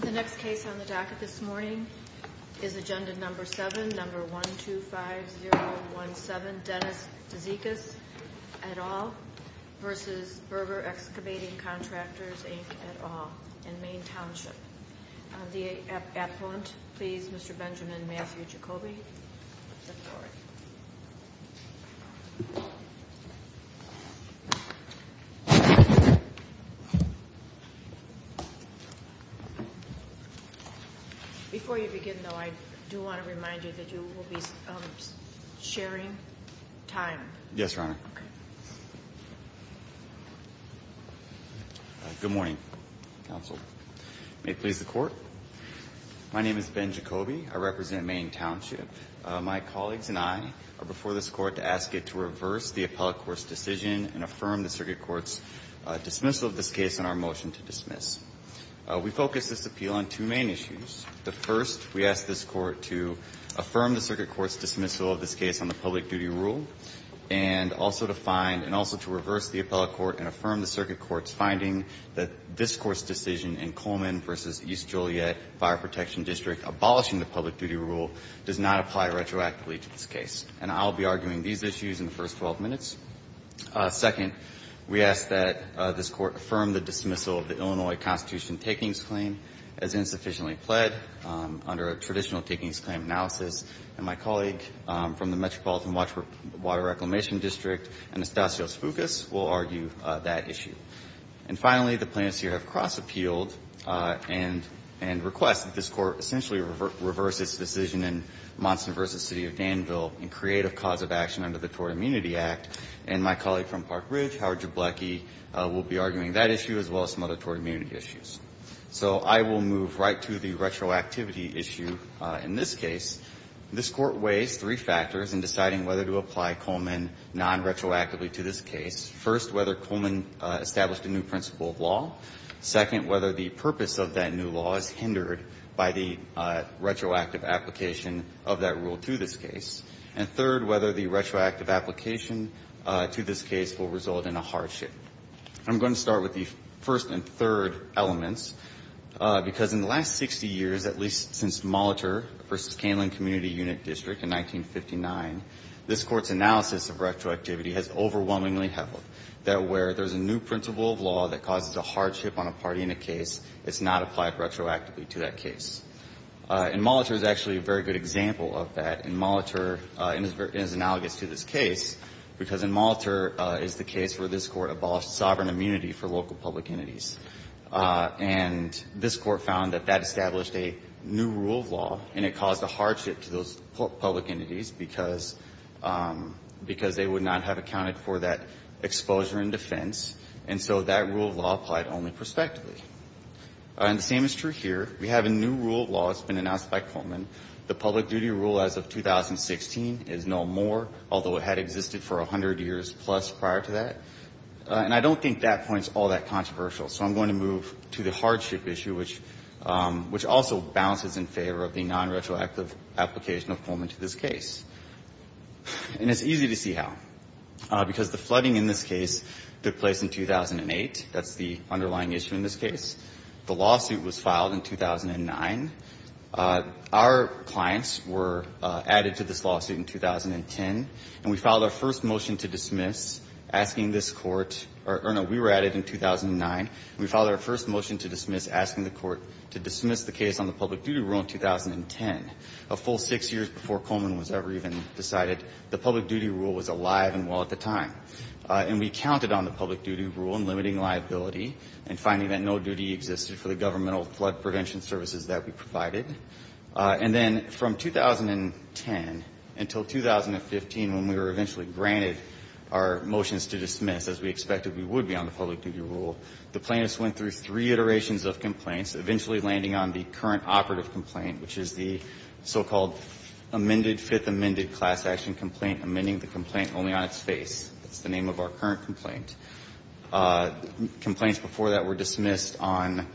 The next case on the docket this morning is Agenda No. 7, No. 125017, Dennis Tzakis, et al., v. Berger Excavating Contractors, Inc., et al., in Maine Township. On the appellant, please, Mr. Benjamin Matthew Jacoby. Before you begin, though, I do want to remind you that you will be sharing time. Yes, Your Honor. Good morning, counsel. May it please the Court. My name is Ben Jacoby. I represent Maine Township. My colleagues and I are before this Court to ask it to reverse the appellate court's decision and affirm the circuit court's dismissal of this case and our motion to dismiss. We focus this appeal on two main issues. The first, we ask this Court to affirm the circuit court's dismissal of this case on the public duty rule, and also to find and also to reverse the appellate court and affirm the circuit court's finding that this Court's decision in Coleman v. East Joliet Fire Protection District abolishing the public duty rule does not apply retroactively to this case. And I'll be arguing these issues in the first 12 minutes. Second, we ask that this Court affirm the dismissal of the Illinois Constitution takings claim as insufficiently pled under a traditional takings claim analysis. And my colleague from the Metropolitan Water Reclamation District, Anastasios Foucas, will argue that issue. And finally, the plaintiffs here have cross-appealed and request that this Court essentially reverse its decision in Monson v. City of Danville and create a cause of action under the Tort Immunity Act. And my colleague from Park Ridge, Howard Jablecki, will be arguing that issue as well as some other tort immunity issues. So I will move right to the retroactivity issue in this case. This Court weighs three factors in deciding whether to apply Coleman non-retroactively to this case. First, whether Coleman established a new principle of law. Second, whether the purpose of that new law is hindered by the retroactive application of that rule to this case. And third, whether the retroactive application to this case will result in a hardship. I'm going to start with the first and third elements, because in the last 60 years, at least since Molitor v. Caneland Community Unit District in 1959, this Court's analysis of retroactivity has overwhelmingly held that where there's a new principle of law that causes a hardship on a party in a case, it's not applied retroactively to that case. And Molitor is actually a very good example of that. And Molitor is analogous to this case, because in Molitor is the case where this Court abolished sovereign immunity for local public entities. And this Court found that that established a new rule of law, and it caused a hardship to those public entities because they would not have accounted for that exposure in defense. And so that rule of law applied only prospectively. And the same is true here. We have a new rule of law that's been announced by Coleman. The public duty rule as of 2016 is no more, although it had existed for 100 years plus prior to that. And I don't think that point's all that controversial, so I'm going to move to the hardship issue, which also bounces in favor of the nonretroactive application of Coleman to this case. And it's easy to see how. Because the flooding in this case took place in 2008. That's the underlying issue in this case. The lawsuit was filed in 2009. Our clients were added to this lawsuit in 2010. And we filed our first motion to dismiss, asking this Court or, no, we were added in 2009. We filed our first motion to dismiss, asking the Court to dismiss the case on the public duty rule in 2010, a full six years before Coleman was ever even decided that the public duty rule was alive and well at the time. And we counted on the public duty rule in limiting liability and finding that no duty existed for the governmental flood prevention services that we provided. And then from 2010 until 2015, when we were eventually granted our motions to dismiss, as we expected we would be on the public duty rule, the plaintiffs went through three iterations of complaints, eventually landing on the current operative complaint, which is the so-called amended, fifth amended class action complaint, amending the complaint only on its face. That's the name of our current complaint. Complaints before that were dismissed on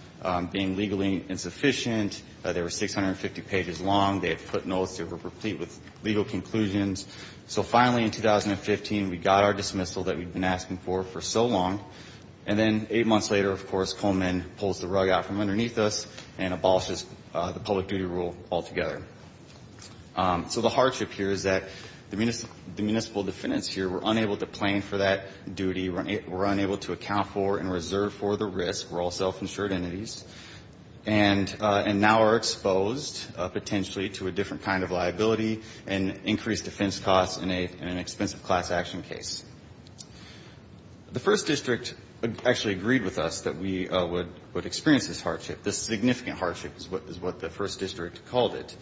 being legally insufficient. They were 650 pages long. They had footnotes. They were complete with legal conclusions. So finally in 2015, we got our dismissal that we'd been asking for for so long. And then eight months later, of course, Coleman pulls the rug out from underneath us and abolishes the public duty rule altogether. So the hardship here is that the municipal defendants here were unable to claim for that duty, were unable to account for and reserve for the risk. We're all self-insured entities. And now are exposed potentially to a different kind of liability and increased defense costs in an expensive class action case. The First District actually agreed with us that we would experience this hardship, this significant hardship is what the First District called it.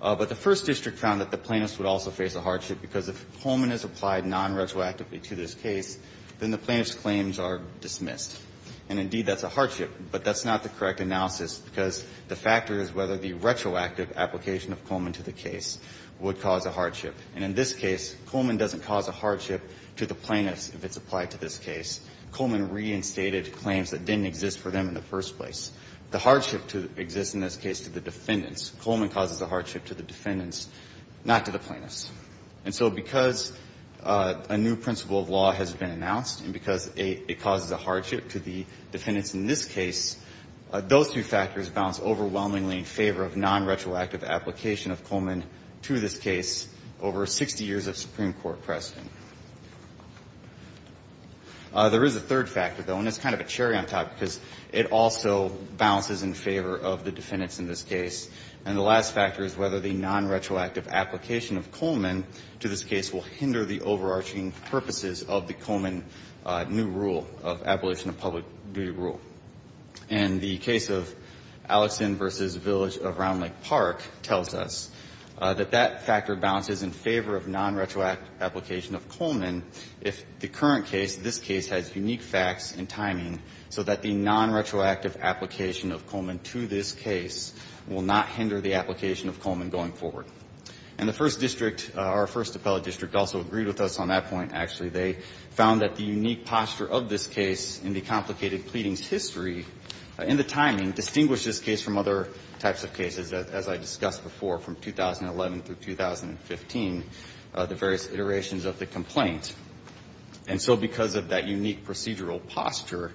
But the First District found that the plaintiffs would also face a hardship, because if Coleman is applied nonretroactively to this case, then the plaintiffs' claims are dismissed. And indeed, that's a hardship. But that's not the correct analysis, because the factor is whether the retroactive application of Coleman to the case would cause a hardship. And in this case, Coleman doesn't cause a hardship to the plaintiffs if it's applied to this case. Coleman reinstated claims that didn't exist for them in the first place. The hardship exists in this case to the defendants. Coleman causes a hardship to the defendants, not to the plaintiffs. And so because a new principle of law has been announced, and because it causes a hardship to the defendants in this case, those two factors balance overwhelmingly in favor of nonretroactive application of Coleman to this case over 60 years of Supreme Court precedent. There is a third factor, though, and it's kind of a cherry on top, because it also balances in favor of the defendants in this case. And the last factor is whether the nonretroactive application of Coleman to this case will hinder the overarching purposes of the Coleman new rule of abolition of public duty rule. And the case of Alexson v. Village of Round Lake Park tells us that that factor balances in favor of nonretroactive application of Coleman if the current case, this case, has unique facts and timing so that the nonretroactive application of Coleman to this case will not hinder the application of Coleman going forward. And the first district, our first appellate district, also agreed with us on that point, actually. They found that the unique posture of this case in the complicated pleadings history and the timing distinguish this case from other types of cases, as I discussed before, from 2011 through 2015, the various iterations of the complaint. And so because of that unique procedural posture,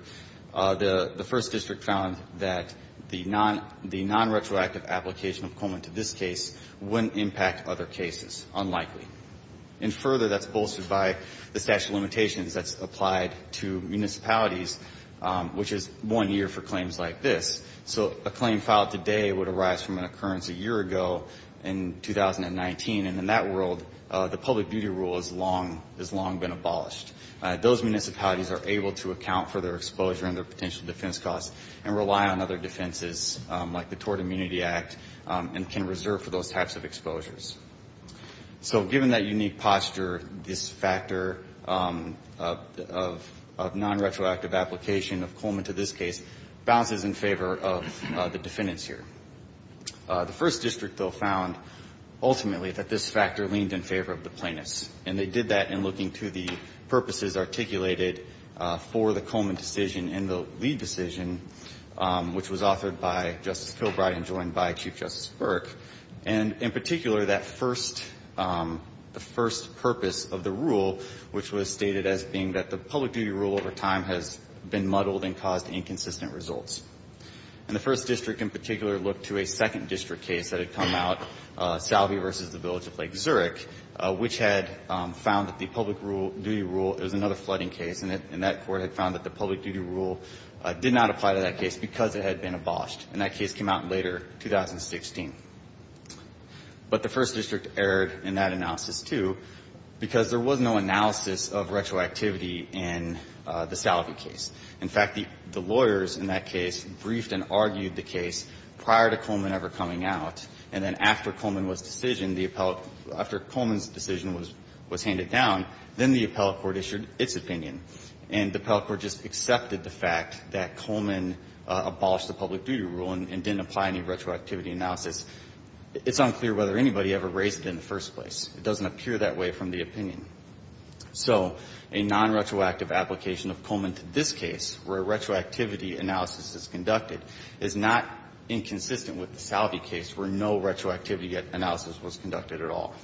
the first district found that the nonretroactive application of Coleman to this case wouldn't impact other cases, unlikely. And further, that's bolstered by the statute of limitations that's applied to municipalities, which is one year for claims like this. So a claim filed today would arise from an occurrence a year ago in 2019. And in that world, the public duty rule has long been abolished. Those municipalities are able to account for their exposure and their potential defense costs and rely on other defenses like the Tort Immunity Act and can reserve for those types of exposures. So given that unique posture, this factor of nonretroactive application of Coleman to this case bounces in favor of the defendants here. The first district, though, found ultimately that this factor leaned in favor of the plaintiffs. And they did that in looking to the purposes articulated for the Coleman decision and the Lee decision, which was authored by Justice Kilbride and joined by Chief Justice Burke. And in particular, that first purpose of the rule, which was stated as being that the public duty rule over time has been muddled and caused inconsistent results. And the first district in particular looked to a second district case that had come out, Salve v. The Village of Lake Zurich, which had found that the public duty rule was another flooding case. And that court had found that the public duty rule did not apply to that case because it had been abolished. And that case came out later, 2016. But the first district erred in that analysis, too, because there was no analysis of retroactivity in the Salve case. In fact, the lawyers in that case briefed and argued the case prior to Coleman ever coming out. And then after Coleman was decision, the appellate – after Coleman's decision was handed down, then the appellate court issued its opinion. And the appellate court just accepted the fact that Coleman abolished the public duty rule and didn't apply any retroactivity analysis. It's unclear whether anybody ever raised it in the first place. It doesn't appear that way from the opinion. So a nonretroactive application of Coleman to this case, where a retroactivity analysis is conducted, is not inconsistent with the Salve case, where no retroactivity analysis was conducted at all.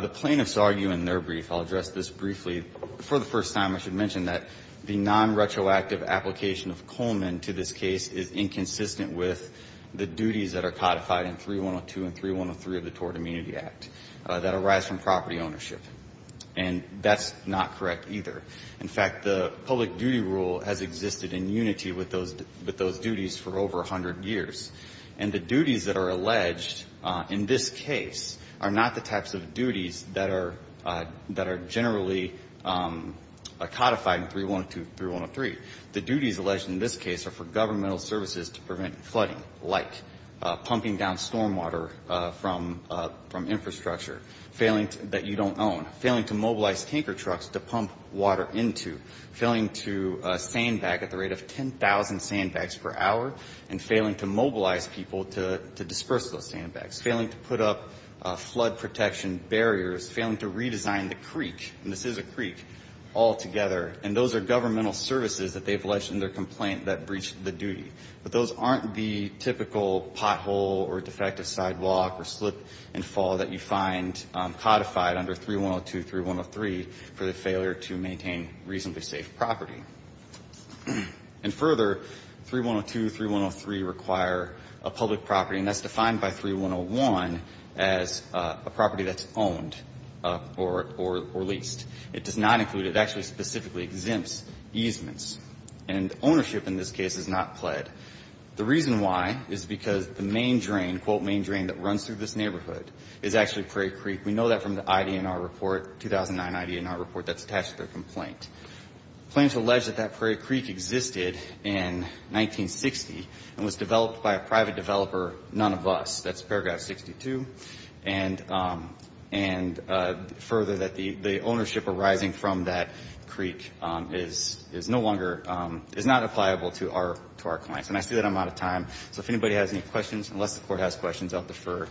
The plaintiffs argue in their brief – I'll address this briefly. For the first time, I should mention that the nonretroactive application of Coleman to this case is inconsistent with the duties that are codified in 3102 and 3103 of the Tort Immunity Act that arise from property ownership. And that's not correct either. In fact, the public duty rule has existed in unity with those duties for over 100 years. And the duties that are alleged in this case are not the types of duties that are generally codified in 3102 and 3103. The duties alleged in this case are for governmental services to prevent flooding, like pumping down stormwater from infrastructure that you don't own, failing to mobilize tanker trucks to pump water into, failing to sandbag at the rate of 10,000 sandbags per hour, and failing to mobilize people to disperse those sandbags, failing to put up flood protection barriers, failing to redesign the creek, and this is a creek, altogether. And those are governmental services that they've alleged in their complaint that breach the duty. But those aren't the typical pothole or defective sidewalk or slip and fall that you find codified under 3102 and 3103 for the failure to maintain reasonably safe property. And further, 3102 and 3103 require a public property, and that's defined by 3101 as a property that's owned or leased. It does not include it. It actually specifically exempts easements. And ownership in this case is not pled. The reason why is because the main drain, quote, main drain that runs through this neighborhood is actually Prairie Creek. We know that from the IDNR report, 2009 IDNR report that's attached to their complaint. Claims allege that that Prairie Creek existed in 1960 and was developed by a private developer, none of us. That's paragraph 62. And further, that the ownership arising from that creek is no longer, is not appliable to our clients. And I see that I'm out of time. So if anybody has any questions, unless the Court has questions, I'll defer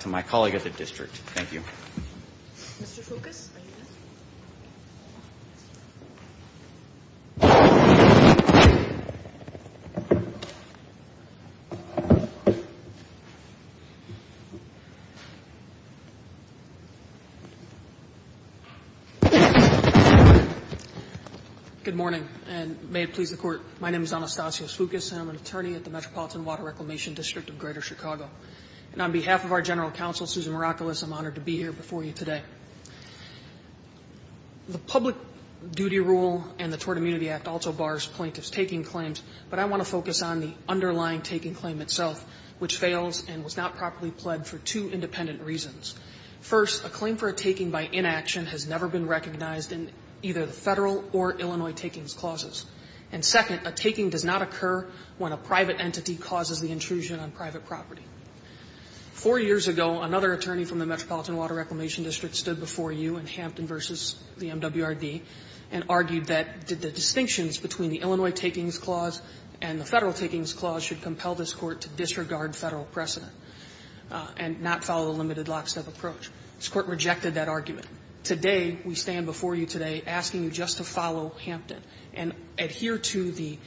to my colleague at the district. Thank you. Mr. Foucas, are you there? Good morning, and may it please the Court, my name is Anastasios Foucas, and I'm an attorney at the Metropolitan Water Reclamation District of Greater Chicago. And on behalf of our general counsel, Susan Miraculous, I'm honored to be here before you today. The public duty rule and the Tort Immunity Act also bars plaintiff's taking claims, but I want to focus on the underlying taking claim itself, which fails and was not properly pled for two independent reasons. First, a claim for a taking by inaction has never been recognized in either the federal or Illinois takings clauses. And second, a taking does not occur when a private entity causes the intrusion on Four years ago, another attorney from the Metropolitan Water Reclamation District stood before you in Hampton v. the MWRD and argued that the distinctions between the Illinois takings clause and the federal takings clause should compel this Court to disregard federal precedent and not follow the limited lockstep approach. This Court rejected that argument. Today, we stand before you today asking you just to follow Hampton and adhere to the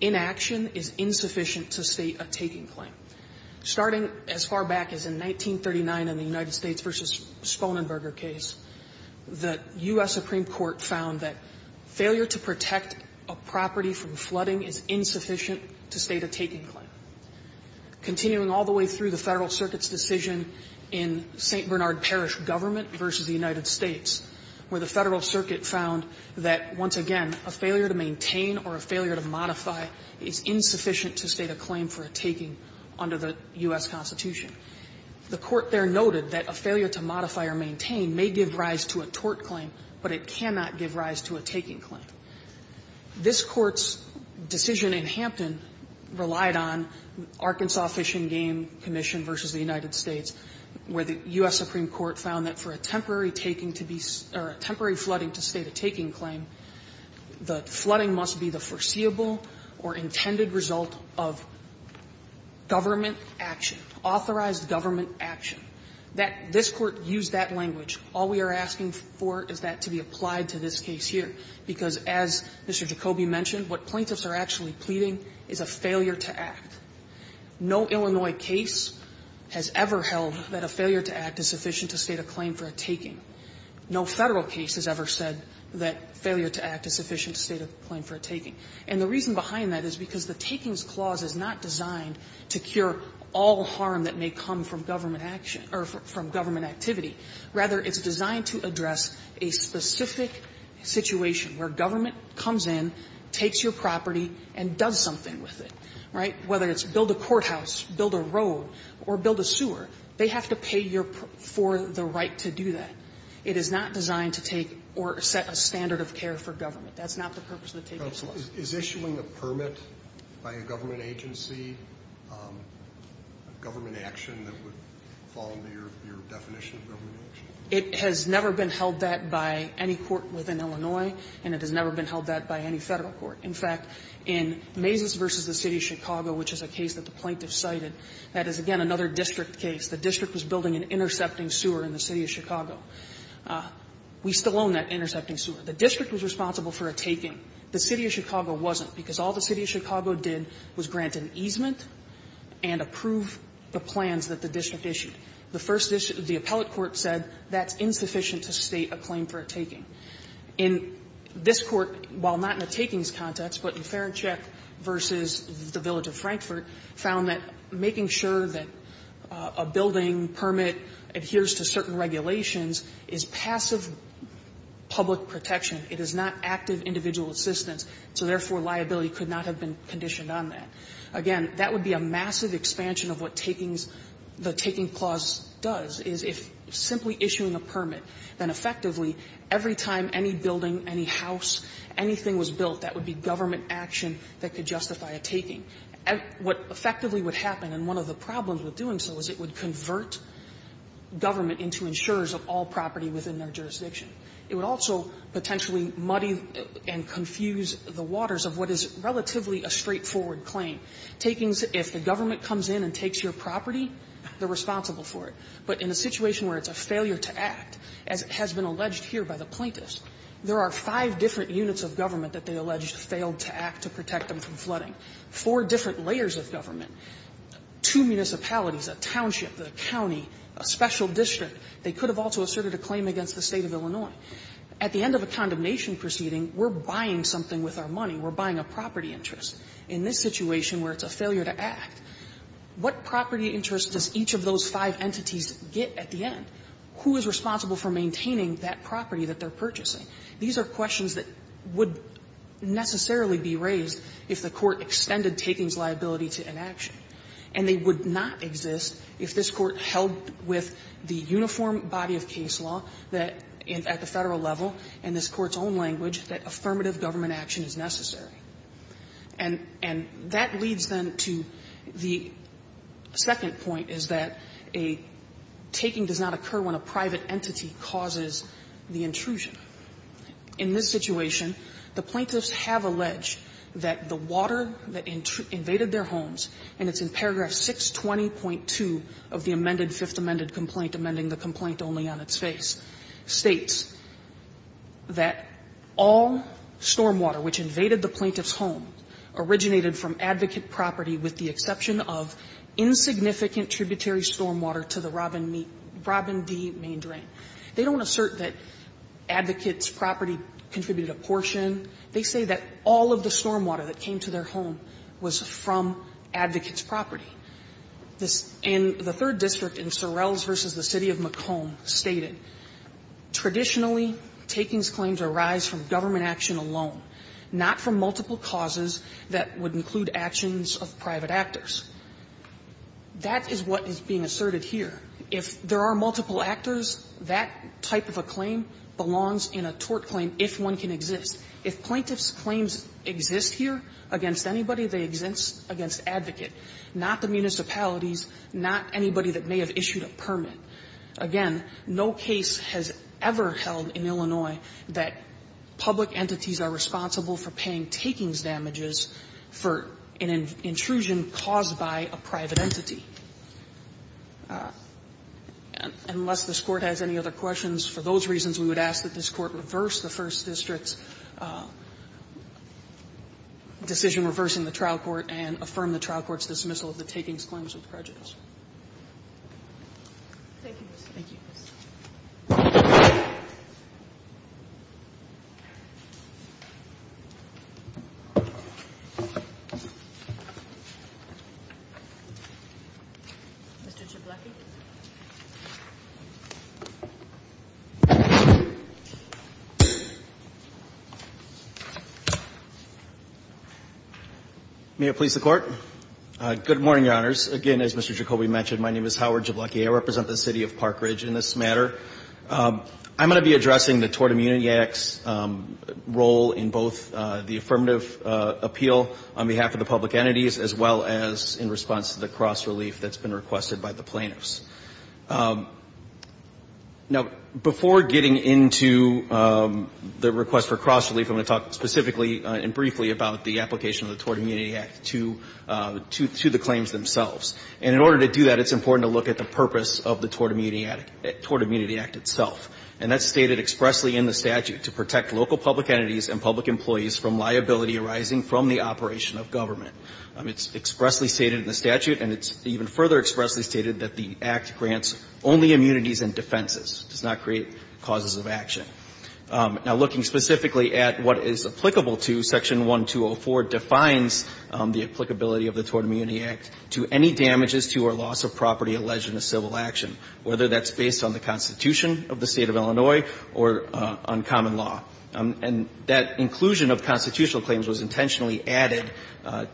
inaction is insufficient to state a taking claim. Starting as far back as in 1939 in the United States v. Sponenberger case, the U.S. Supreme Court found that failure to protect a property from flooding is insufficient to state a taking claim. Continuing all the way through the Federal Circuit's decision in St. Bernard Parish government v. the United States, where the Federal Circuit found that, once again, a failure to maintain or a failure to modify is insufficient to state a claim for a taking under the U.S. Constitution. The Court there noted that a failure to modify or maintain may give rise to a tort claim, but it cannot give rise to a taking claim. This Court's decision in Hampton relied on Arkansas Fish and Game Commission v. the United States, where the U.S. Supreme Court found that for a temporary flooding to state a taking claim, the flooding must be the foreseeable or intended result of government action, authorized government action. This Court used that language. All we are asking for is that to be applied to this case here, because as Mr. Jacoby mentioned, what plaintiffs are actually pleading is a failure to act. No Illinois case has ever held that a failure to act is sufficient to state a claim for a taking. No Federal case has ever said that failure to act is sufficient to state a claim for a taking. And the reason behind that is because the takings clause is not designed to cure all harm that may come from government action or from government activity. Rather, it's designed to address a specific situation where government comes in, takes your property, and does something with it. Right? Whether it's build a courthouse, build a road, or build a sewer, they have to pay for the right to do that. It is not designed to take or set a standard of care for government. That's not the purpose of the takings clause. But is issuing a permit by a government agency a government action that would fall under your definition of government action? It has never been held that by any court within Illinois, and it has never been held that by any Federal court. In fact, in Mazes v. the City of Chicago, which is a case that the plaintiff cited, that is, again, another district case. The district was building an intercepting sewer in the City of Chicago. We still own that intercepting sewer. The district was responsible for a taking. The City of Chicago wasn't, because all the City of Chicago did was grant an easement and approve the plans that the district issued. The first issue, the appellate court said that's insufficient to state a claim for a taking. In this court, while not in a takings context, but in Ferenczek v. the Village of Frankfurt, found that making sure that a building permit adheres to certain regulations is passive public protection. It is not active individual assistance, so therefore, liability could not have been conditioned on that. Again, that would be a massive expansion of what takings the taking clause does, is if simply issuing a permit, then effectively every time any building, any house, anything was built, that would be government action that could justify a taking. What effectively would happen, and one of the problems with doing so, is it would convert government into insurers of all property within their jurisdiction. It would also potentially muddy and confuse the waters of what is relatively a straightforward claim. Takings, if the government comes in and takes your property, they're responsible for it. But in a situation where it's a failure to act, as has been alleged here by the plaintiffs, there are five different units of government that they allege failed to act to protect them from flooding. Four different layers of government, two municipalities, a township, a county, a special district. They could have also asserted a claim against the State of Illinois. At the end of a condemnation proceeding, we're buying something with our money. We're buying a property interest. In this situation where it's a failure to act, what property interest does each of those five entities get at the end? Who is responsible for maintaining that property that they're purchasing? These are questions that would necessarily be raised if the Court extended takings liability to inaction. And they would not exist if this Court held with the uniform body of case law that at the Federal level, in this Court's own language, that affirmative government action is necessary. And that leads, then, to the second point, is that a taking does not occur when a private entity causes the intrusion. In this situation, the plaintiffs have alleged that the water that invaded their homes, and it's in paragraph 620.2 of the amended Fifth Amendment complaint, amending the complaint only on its face, states that all stormwater which invaded the plaintiff's home originated from advocate property with the exception of insignificant tributary stormwater to the Robin D. Main drain. They don't assert that advocate's property contributed a portion. They say that all of the stormwater that came to their home was from advocate's property. This and the third district in Sorrells v. The City of Macomb stated, traditionally, takings claims arise from government action alone, not from multiple causes that would include actions of private actors. That is what is being asserted here. If there are multiple actors, that type of a claim belongs in a tort claim, if one can exist. If plaintiff's claims exist here against anybody, they exist against advocate, not the municipalities, not anybody that may have issued a permit. Again, no case has ever held in Illinois that public entities are responsible for paying takings damages for an intrusion caused by a private entity. Unless this Court has any other questions, for those reasons, we would ask that this Court reverse the first district's decision reversing the trial court and affirm the trial court's dismissal of the takings claims with prejudice. Thank you, Mr. Chief Justice. Thank you. Mr. Jabloki. May it please the Court. Good morning, Your Honors. Again, as Mr. Jacobi mentioned, my name is Howard Jabloki. I represent the City of Park Ridge in this matter. I'm going to be addressing the Tort Immunity Act's role in both the affirmative appeal on behalf of the public entities as well as in response to the cross-relief that's been requested by the plaintiffs. Now, before getting into the request for cross-relief, I'm going to talk specifically and briefly about the application of the Tort Immunity Act to the claims themselves. And in order to do that, it's important to look at the purpose of the Tort Immunity Act itself. And that's stated expressly in the statute, to protect local public entities and public employees from liability arising from the operation of government. It's expressly stated in the statute, and it's even further expressly stated that the Act grants only immunities and defenses, does not create causes of action. Now, looking specifically at what is applicable to Section 1204 defines the applicability of the Tort Immunity Act to any damages to or loss of property alleged in a civil action, whether that's based on the Constitution of the State of Illinois or on common law. And that inclusion of constitutional claims was intentionally added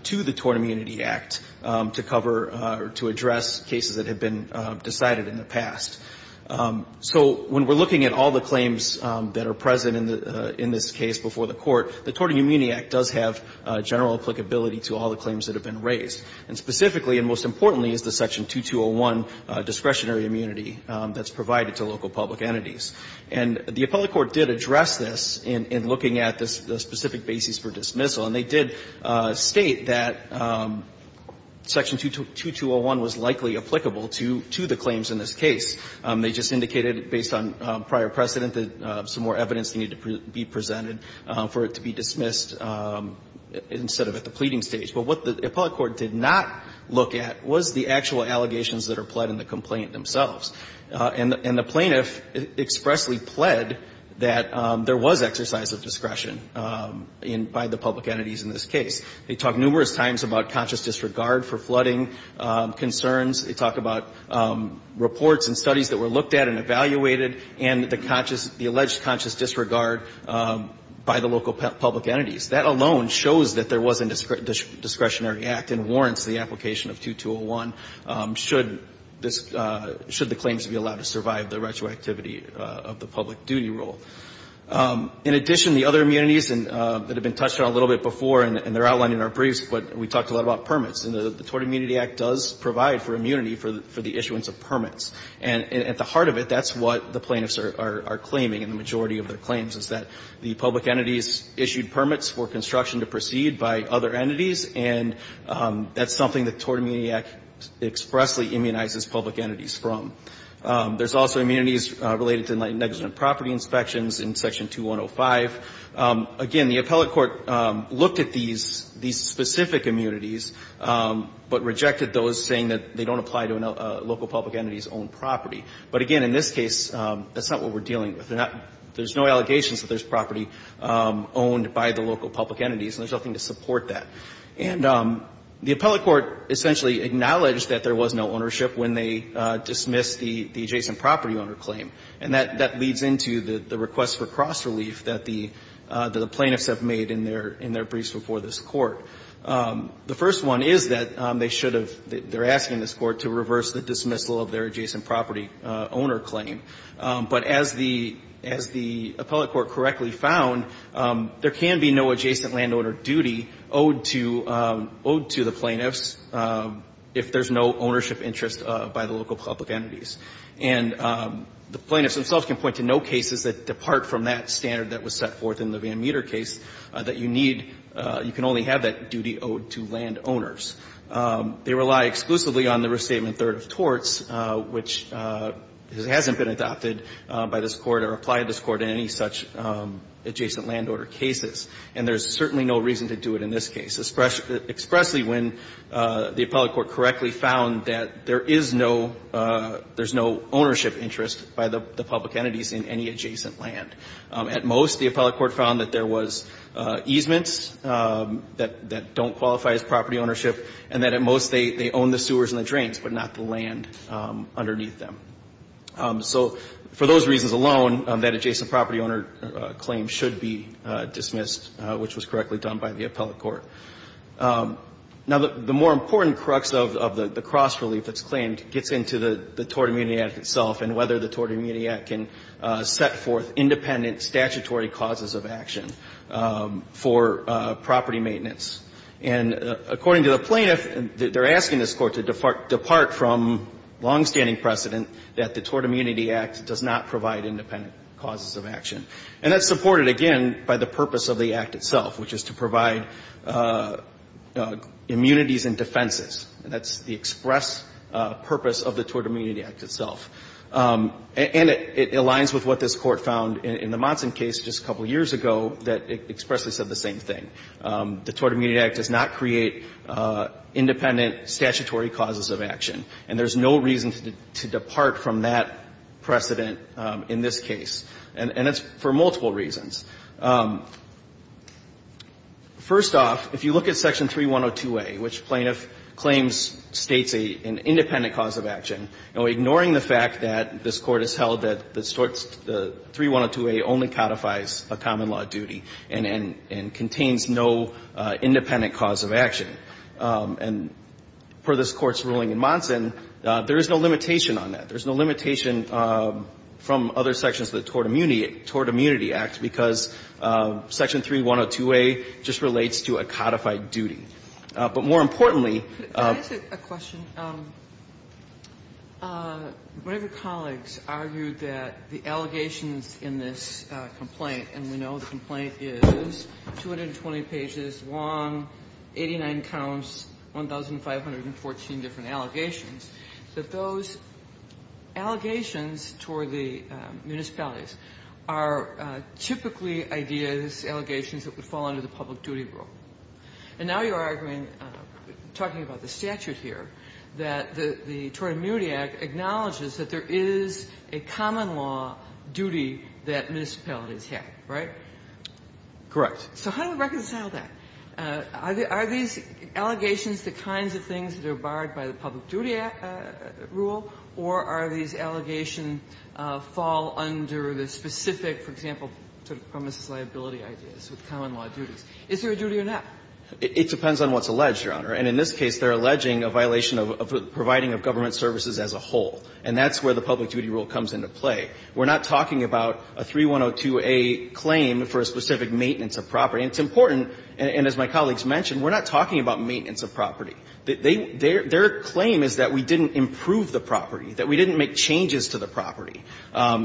to the Tort Immunity Act to cover or to address cases that have been decided in the past. So when we're looking at all the claims that are present in this case before the Court, the Tort Immunity Act does have general applicability to all the claims that have been raised. And specifically, and most importantly, is the Section 2201 discretionary immunity that's provided to local public entities. And the appellate court did address this in looking at the specific basis for dismissal. And they did state that Section 2201 was likely applicable to the claims in this case. They just indicated based on prior precedent that some more evidence needed to be presented for it to be dismissed instead of at the pleading stage. But what the appellate court did not look at was the actual allegations that are pled in the complaint themselves. And the plaintiff expressly pled that there was exercise of discretion by the public entities in this case. They talked numerous times about conscious disregard for flooding concerns. They talked about reports and studies that were looked at and evaluated and the conscious the alleged conscious disregard by the local public entities. That alone shows that there was a discretionary act and warrants the application of 2201 should the claims be allowed to survive the retroactivity of the public duty rule. In addition, the other immunities that have been touched on a little bit before, and they're outlined in our briefs, but we talked a lot about permits. And the Tort Immunity Act does provide for immunity for the issuance of permits. And at the heart of it, that's what the plaintiffs are claiming and the majority of their claims is that the public entities issued permits for construction to proceed by other entities, and that's something that the Tort Immunity Act expressly immunizes public entities from. There's also immunities related to negligent property inspections in Section 2105. Again, the appellate court looked at these specific immunities, but rejected those saying that they don't apply to local public entities' own property. But again, in this case, that's not what we're dealing with. There's no allegations that there's property owned by the local public entities, and there's nothing to support that. And the appellate court essentially acknowledged that there was no ownership when they dismissed the adjacent property owner claim. And that leads into the request for cross-relief that the plaintiffs have made in their briefs before this Court. The first one is that they should have, they're asking this Court to reverse the dismissal of their adjacent property owner claim. But as the appellate court correctly found, there can be no adjacent landowner duty owed to the plaintiffs if there's no ownership interest by the local public entities. And the plaintiffs themselves can point to no cases that depart from that standard that was set forth in the Van Meter case that you need, you can only have that duty owed to landowners. They rely exclusively on the restatement third of torts, which hasn't been adopted by this Court or applied to this Court in any such adjacent landowner cases. And there's certainly no reason to do it in this case, especially when the appellate court correctly found that there is no, there's no ownership interest by the public entities in any adjacent land. At most, the appellate court found that there was easements that don't qualify as property ownership, and that at most they own the sewers and the drains, but not the land underneath them. So for those reasons alone, that adjacent property owner claim should be dismissed, which was correctly done by the appellate court. Now, the more important crux of the cross-relief that's claimed gets into the Tort Immunity Act itself and whether the Tort Immunity Act can set forth independent statutory causes of action for property maintenance. And according to the plaintiff, they're asking this Court to depart from longstanding precedent that the Tort Immunity Act does not provide independent causes of action. And that's supported, again, by the purpose of the act itself, which is to provide immunities and defenses. That's the express purpose of the Tort Immunity Act itself. And it aligns with what this Court found in the Monson case just a couple years ago that expressly said the same thing. The Tort Immunity Act does not create independent statutory causes of action. And there's no reason to depart from that precedent in this case. And it's for multiple reasons. First off, if you look at Section 3102a, which plaintiff claims states an independent cause of action, ignoring the fact that this Court has held that the 3102a only codifies a common law duty and contains no independent cause of action. And per this Court's ruling in Monson, there is no limitation on that. There's no limitation from other sections of the Tort Immunity Act because the Tort Immunity Act says Section 3102a just relates to a codified duty. But more importantly of the Court's ruling in Monson states that the 3102a only And per this Court's ruling in Monson, there is no limitation from other sections But more importantly of the Court's ruling in Monson states that the Tort Immunity Act states that the Tort Immunity Act acknowledges that there is a common law duty that municipalities have, right? So how do we reconcile that? Are these allegations the kinds of things that are barred by the Public Duty Act rule, or the specific, for example, premises liability ideas with common law duties? Is there a duty or not? It depends on what's alleged, Your Honor. And in this case, they're alleging a violation of providing of government services as a whole. And that's where the public duty rule comes into play. We're not talking about a 3102A claim for a specific maintenance of property. It's important, and as my colleagues mentioned, we're not talking about maintenance of property. Their claim is that we didn't improve the property, that we didn't make changes to the property.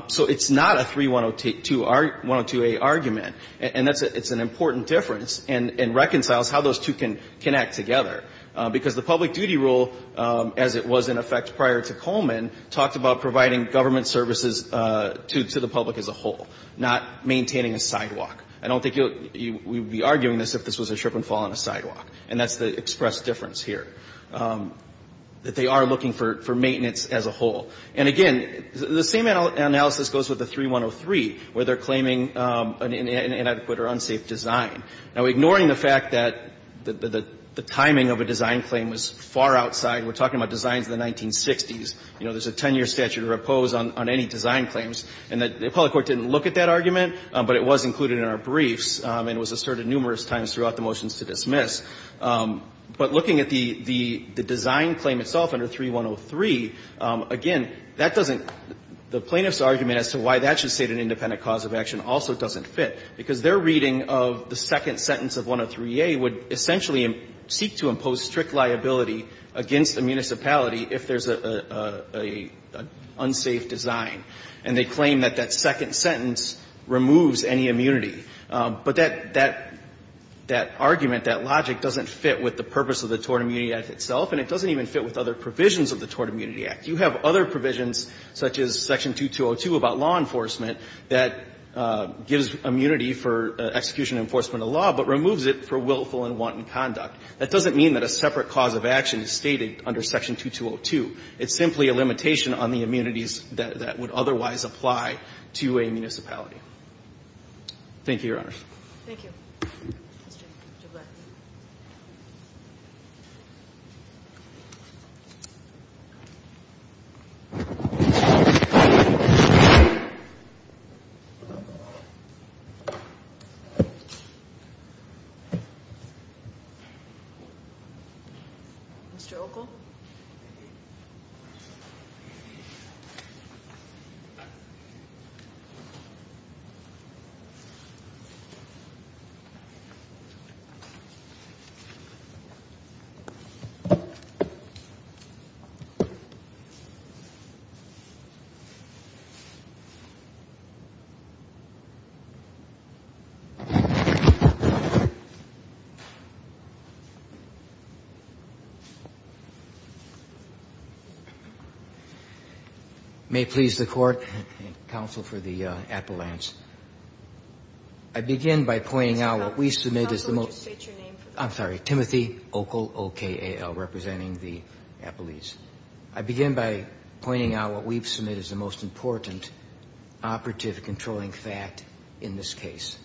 So it's not a 3102A argument, and it's an important difference and reconciles how those two can connect together, because the public duty rule, as it was in effect prior to Coleman, talked about providing government services to the public as a whole, not maintaining a sidewalk. I don't think you would be arguing this if this was a trip and fall on a sidewalk. And that's the expressed difference here, that they are looking for maintenance as a whole. And again, the same analysis goes with the 3103, where they're claiming an inadequate or unsafe design. Now, ignoring the fact that the timing of a design claim was far outside, we're talking about designs of the 1960s, you know, there's a 10-year statute of repose on any design claims, and the appellate court didn't look at that argument, but it was included in our briefs, and it was asserted numerous times throughout the motions to dismiss. But looking at the design claim itself under 3103, again, that doesn't the plaintiff's argument as to why that should state an independent cause of action also doesn't fit, because their reading of the second sentence of 103A would essentially seek to impose strict liability against the municipality if there's an unsafe design. And they claim that that second sentence removes any immunity. But that argument, that logic doesn't fit with the purpose of the Tort Immunity Act itself, and it doesn't even fit with other provisions of the Tort Immunity Act. You have other provisions, such as section 2202 about law enforcement, that gives immunity for execution and enforcement of law, but removes it for willful and wanton conduct. That doesn't mean that a separate cause of action is stated under section 2202. It's simply a limitation on the immunities that would otherwise apply to a municipality. Thank you, Your Honors. Thank you. Mr. Okel. Mr. Okel. May it please the Court and counsel for the appellants, I begin by pointing out what we submit as the most important operative controlling fact in this case,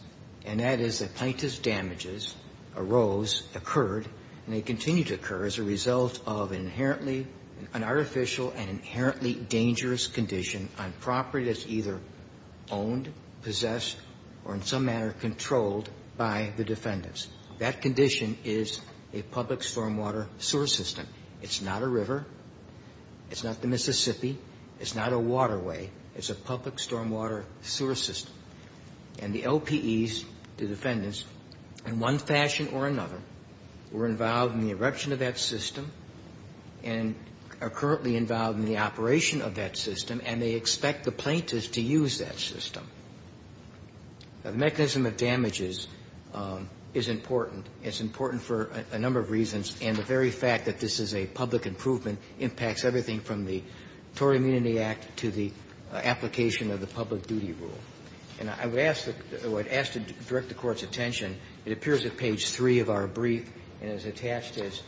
and that is that plaintiff's damages arose, occurred, and they continue to occur as a result of inherently an artificial and inherently dangerous condition on property that's either owned, possessed, or in some manner controlled by the defendants. That condition is a public stormwater sewer system. It's not a river. It's not the Mississippi. It's not a waterway. It's a public stormwater sewer system. And the LPEs, the defendants, in one fashion or another, were involved in the eruption of that system and are currently involved in the operation of that system, and they expect the plaintiffs to use that system. The mechanism of damages is important. It's important for a number of reasons, and the very fact that this is a public improvement impacts everything from the Tory Immunity Act to the application of the public duty rule. And I would ask the Court's attention. It appears at page 3 of our brief, and it's attached as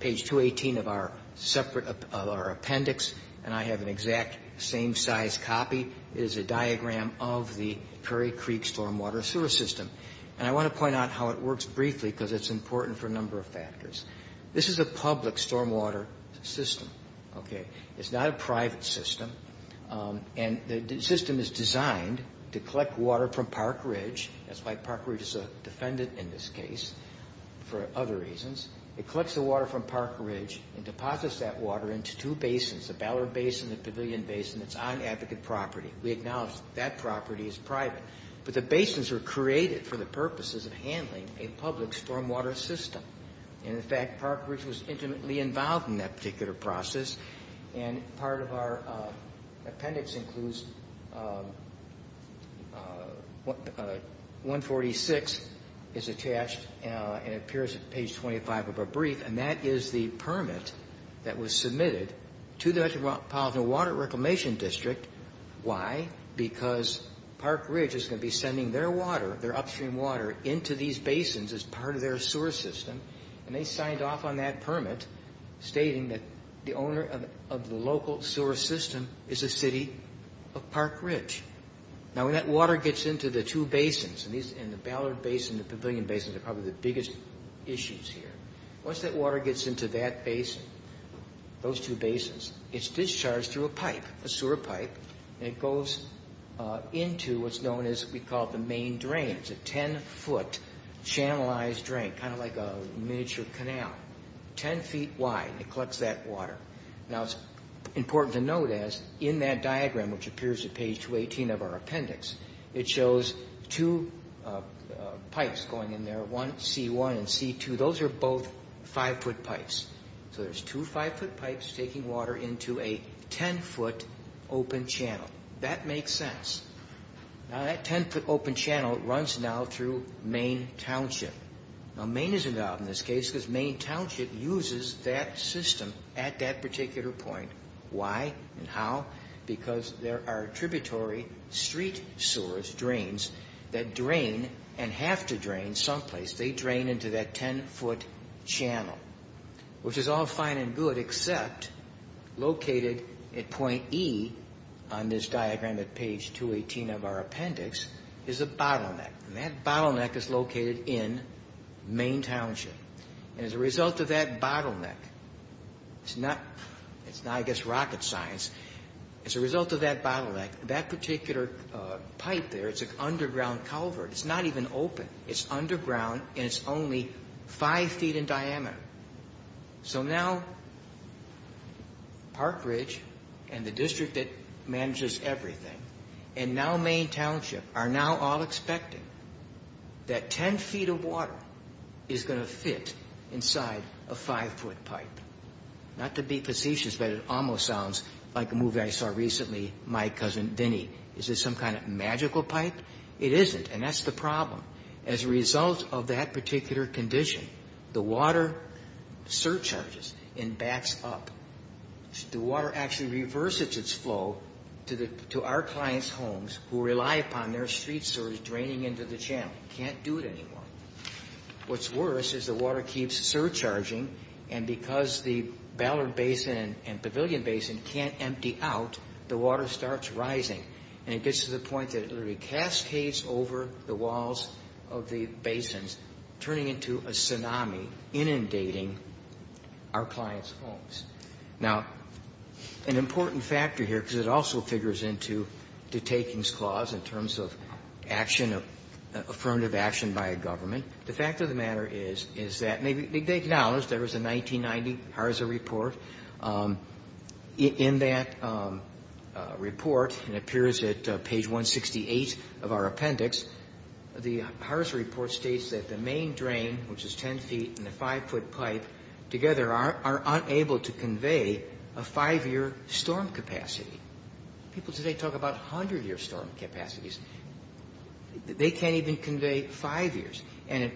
page 218 of our separate appendix, and I have an exact same size copy. It is a diagram of the Prairie Creek stormwater sewer system. And I want to point out how it works briefly because it's important for a number of factors. This is a public stormwater system, okay? It's not a private system, and the system is designed to collect water from Park Ridge. That's why Park Ridge is a defendant in this case, for other reasons. It collects the water from Park Ridge and deposits that water into two basins, the Ballard Basin and the Pavilion Basin. It's on advocate property. We acknowledge that that property is private, but the basins are created for the purposes of handling a public stormwater system. And, in fact, Park Ridge was intimately involved in that particular process, And part of our appendix includes 146 is attached and appears at page 25 of our brief, and that is the permit that was submitted to the Metropolitan Water Reclamation District. Why? Because Park Ridge is going to be sending their water, their upstream water, into these basins as part of their sewer system. And they signed off on that permit stating that the owner of the local sewer system is a city of Park Ridge. Now, when that water gets into the two basins, and the Ballard Basin and the Pavilion Basin are probably the biggest issues here, once that water gets into that basin, those two basins, it's discharged through a pipe, a sewer pipe, and it goes into what's known as what we call the main drain. It's a 10-foot channelized drain, kind of like a miniature canal, 10 feet wide. It collects that water. Now, it's important to note, as in that diagram, which appears at page 218 of our appendix, it shows two pipes going in there, one C1 and C2. Those are both 5-foot pipes. So there's two 5-foot pipes taking water into a 10-foot open channel. That makes sense. Now, that 10-foot open channel runs now through Main Township. Now, Main is involved in this case because Main Township uses that system at that particular point. Why and how? Because there are tributary street sewers, drains, that drain and have to drain someplace. They drain into that 10-foot channel, which is all fine and good except located at point E on this diagram at page 218 of our appendix is a bottleneck. And that bottleneck is located in Main Township. And as a result of that bottleneck, it's not, I guess, rocket science. As a result of that bottleneck, that particular pipe there, it's an underground culvert. It's not even open. It's underground and it's only 5 feet in diameter. So now Park Ridge and the district that manages everything and now Main Township are now all expecting that 10 feet of water is going to fit inside a 5-foot pipe. Not to be facetious, but it almost sounds like a movie I saw recently, My Cousin Dinny. Is it some kind of magical pipe? It isn't. And that's the problem. As a result of that particular condition, the water surcharges and backs up. The water actually reverses its flow to our clients' homes who rely upon their street sewers draining into the channel. Can't do it anymore. What's worse is the water keeps surcharging and because the Ballard Basin and Pavilion Basin can't empty out, the water starts rising. And it gets to the point that it literally cascades over the walls of the basins, turning into a tsunami, inundating our clients' homes. Now, an important factor here, because it also figures into the Takings Clause in terms of action, affirmative action by a government, the fact of the matter is, is that they acknowledged there was a 1990 HARSA report. In that report, it appears at page 168 of our appendix, the HARSA report states that the main drain, which is ten feet and a five-foot pipe together, are unable to convey a five-year storm capacity. People today talk about hundred-year storm capacities. They can't even convey five years. And at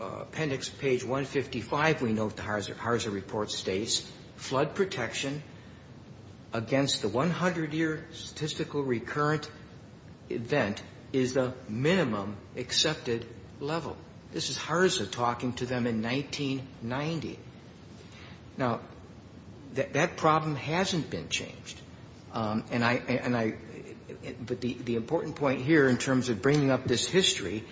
appendix page 155, we note the HARSA report states, flood protection against the 100-year statistical recurrent event is the minimum accepted level. This is HARSA talking to them in 1990. Now, that problem hasn't been changed. And I, but the important point here in terms of bringing up this history,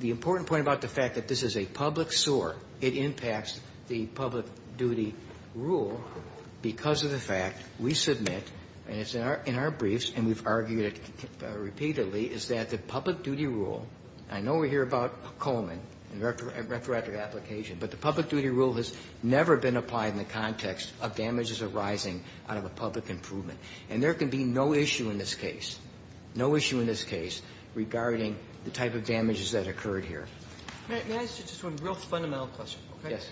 the important point about the fact that this is a public SOAR, it impacts the public duty rule because of the fact we submit, and it's in our briefs and we've argued it repeatedly, is that the public duty rule, I know we hear about Coleman and retroactive application, but the public duty rule has never been applied in the context of damages arising out of a public improvement. And there can be no issue in this case, no issue in this case regarding the type of damages that occurred here. Kagan. May I ask you just one real fundamental question? Yes.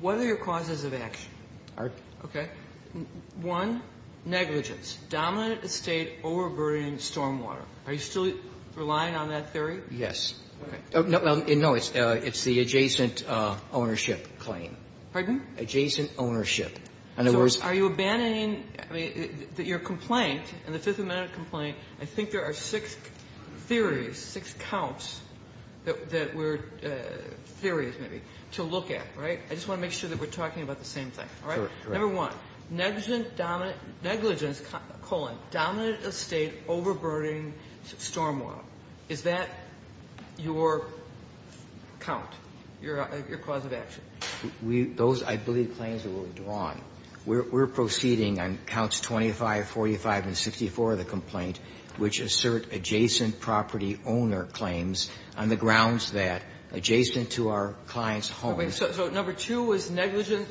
What are your causes of action? All right. Okay. One, negligence. Dominant estate overburdening stormwater. Are you still relying on that theory? Yes. Okay. No, it's the adjacent ownership claim. Pardon? Adjacent ownership. So are you abandoning, I mean, your complaint, in the Fifth Amendment complaint, I think there are six theories, six counts that were theories, maybe, to look at. Right? I just want to make sure that we're talking about the same thing. All right? Sure. Correct. Number one, negligence, colon, dominant estate overburdening stormwater. Is that your count, your cause of action? Those, I believe, claims were withdrawn. No. We're proceeding on counts 25, 45, and 64 of the complaint, which assert adjacent property owner claims on the grounds that adjacent to our client's home. Okay. So number two was negligent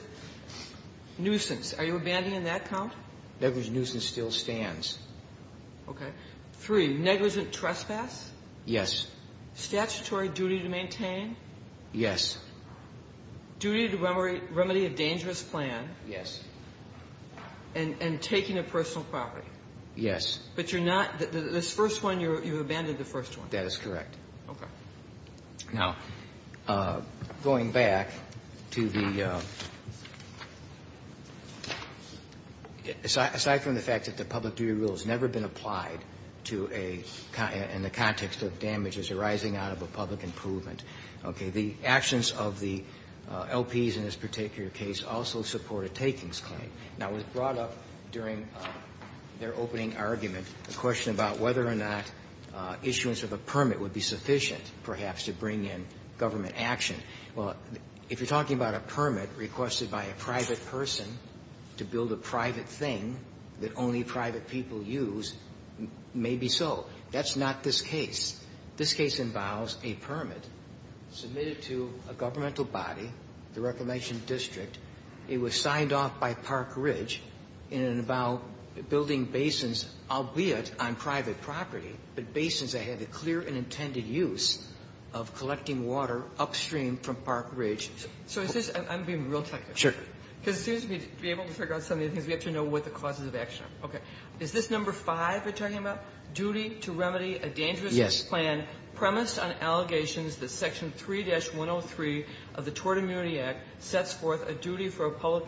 nuisance. Are you abandoning that count? Negligent nuisance still stands. Okay. Three, negligent trespass. Yes. Statutory duty to maintain. Yes. Duty to remedy a dangerous plan. Yes. And taking a personal property. Yes. But you're not, this first one, you abandoned the first one. That is correct. Okay. Now, going back to the, aside from the fact that the public duty rule has never been applied to a, in the context of damages arising out of a public improvement, okay, the actions of the LPs in this particular case also support a takings claim. Now, it was brought up during their opening argument, the question about whether or not issuance of a permit would be sufficient, perhaps, to bring in government action. Well, if you're talking about a permit requested by a private person to build a private thing that only private people use, maybe so. That's not this case. This case involves a permit submitted to a governmental body, the Reclamation District. It was signed off by Park Ridge, and it involved building basins, albeit on private property, but basins that had the clear and intended use of collecting water upstream from Park Ridge. So is this, I'm being real technical. Sure. Because it seems to me, to be able to figure out some of these things, we have to know what the causes of action are. Okay. Is this number five you're talking about? Duty to remedy a dangerous plan? Yes. Premised on allegations that Section 3-103 of the Tort Immunity Act sets forth a duty for a public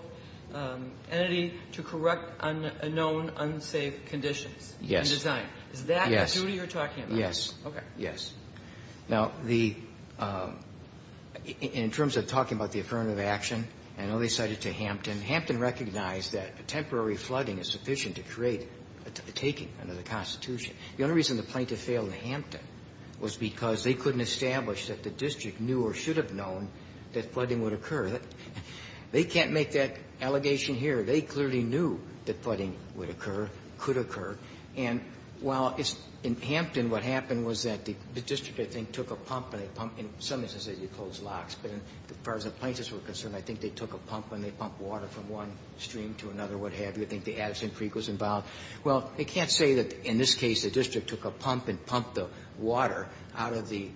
entity to correct unknown, unsafe conditions? Yes. In design. Is that a duty you're talking about? Yes. Okay. Yes. Now, the – in terms of talking about the affirmative action, I know they cited to Hampton. Hampton recognized that temporary flooding is sufficient to create a taking under the Constitution. The only reason the plaintiff failed in Hampton was because they couldn't establish that the district knew or should have known that flooding would occur. They can't make that allegation here. They clearly knew that flooding would occur, could occur. And while it's – in Hampton, what happened was that the district, I think, took a pump and they pumped – in some instances, they closed locks, but as far as the plaintiffs were concerned, I think they took a pump and they pumped water from one stream to another, or what have you. I think the Addison Creek was involved. Well, they can't say that, in this case, the district took a pump and pumped the water out of the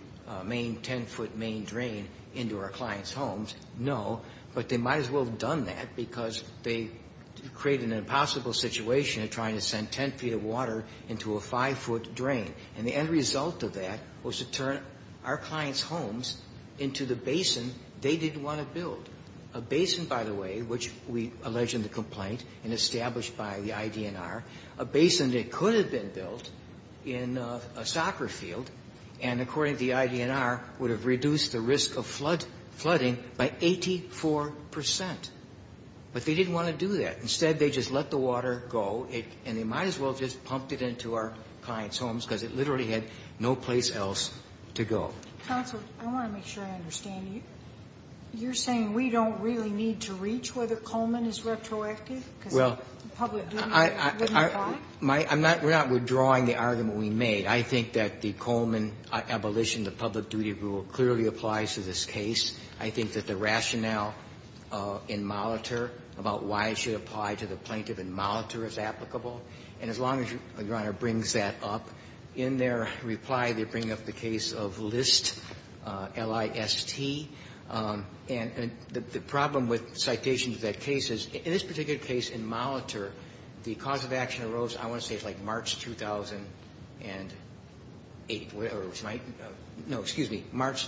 main 10-foot main drain into our clients' homes. No. But they might as well have done that because they created an impossible situation of trying to send 10 feet of water into a 5-foot drain. And the end result of that was to turn our clients' homes into the basin they didn't want to build. A basin, by the way, which we allege in the complaint and established by the IDNR, a basin that could have been built in a soccer field and, according to the IDNR, would have reduced the risk of flooding by 84 percent. But they didn't want to do that. Instead, they just let the water go and they might as well have just pumped it into our clients' homes because it literally had no place else to go. Counsel, I want to make sure I understand you. You're saying we don't really need to reach whether Coleman is retroactive because the public duty rule wouldn't apply? I'm not withdrawing the argument we made. I think that the Coleman abolition, the public duty rule, clearly applies to this case. I think that the rationale in Molitor about why it should apply to the plaintiff in Molitor is applicable. And as long as Your Honor brings that up, in their reply, they bring up the case of List, L-I-S-T. And the problem with citations of that case is, in this particular case in Molitor, the cause of action arose, I want to say it's like March 2008, or it was my no, excuse me, March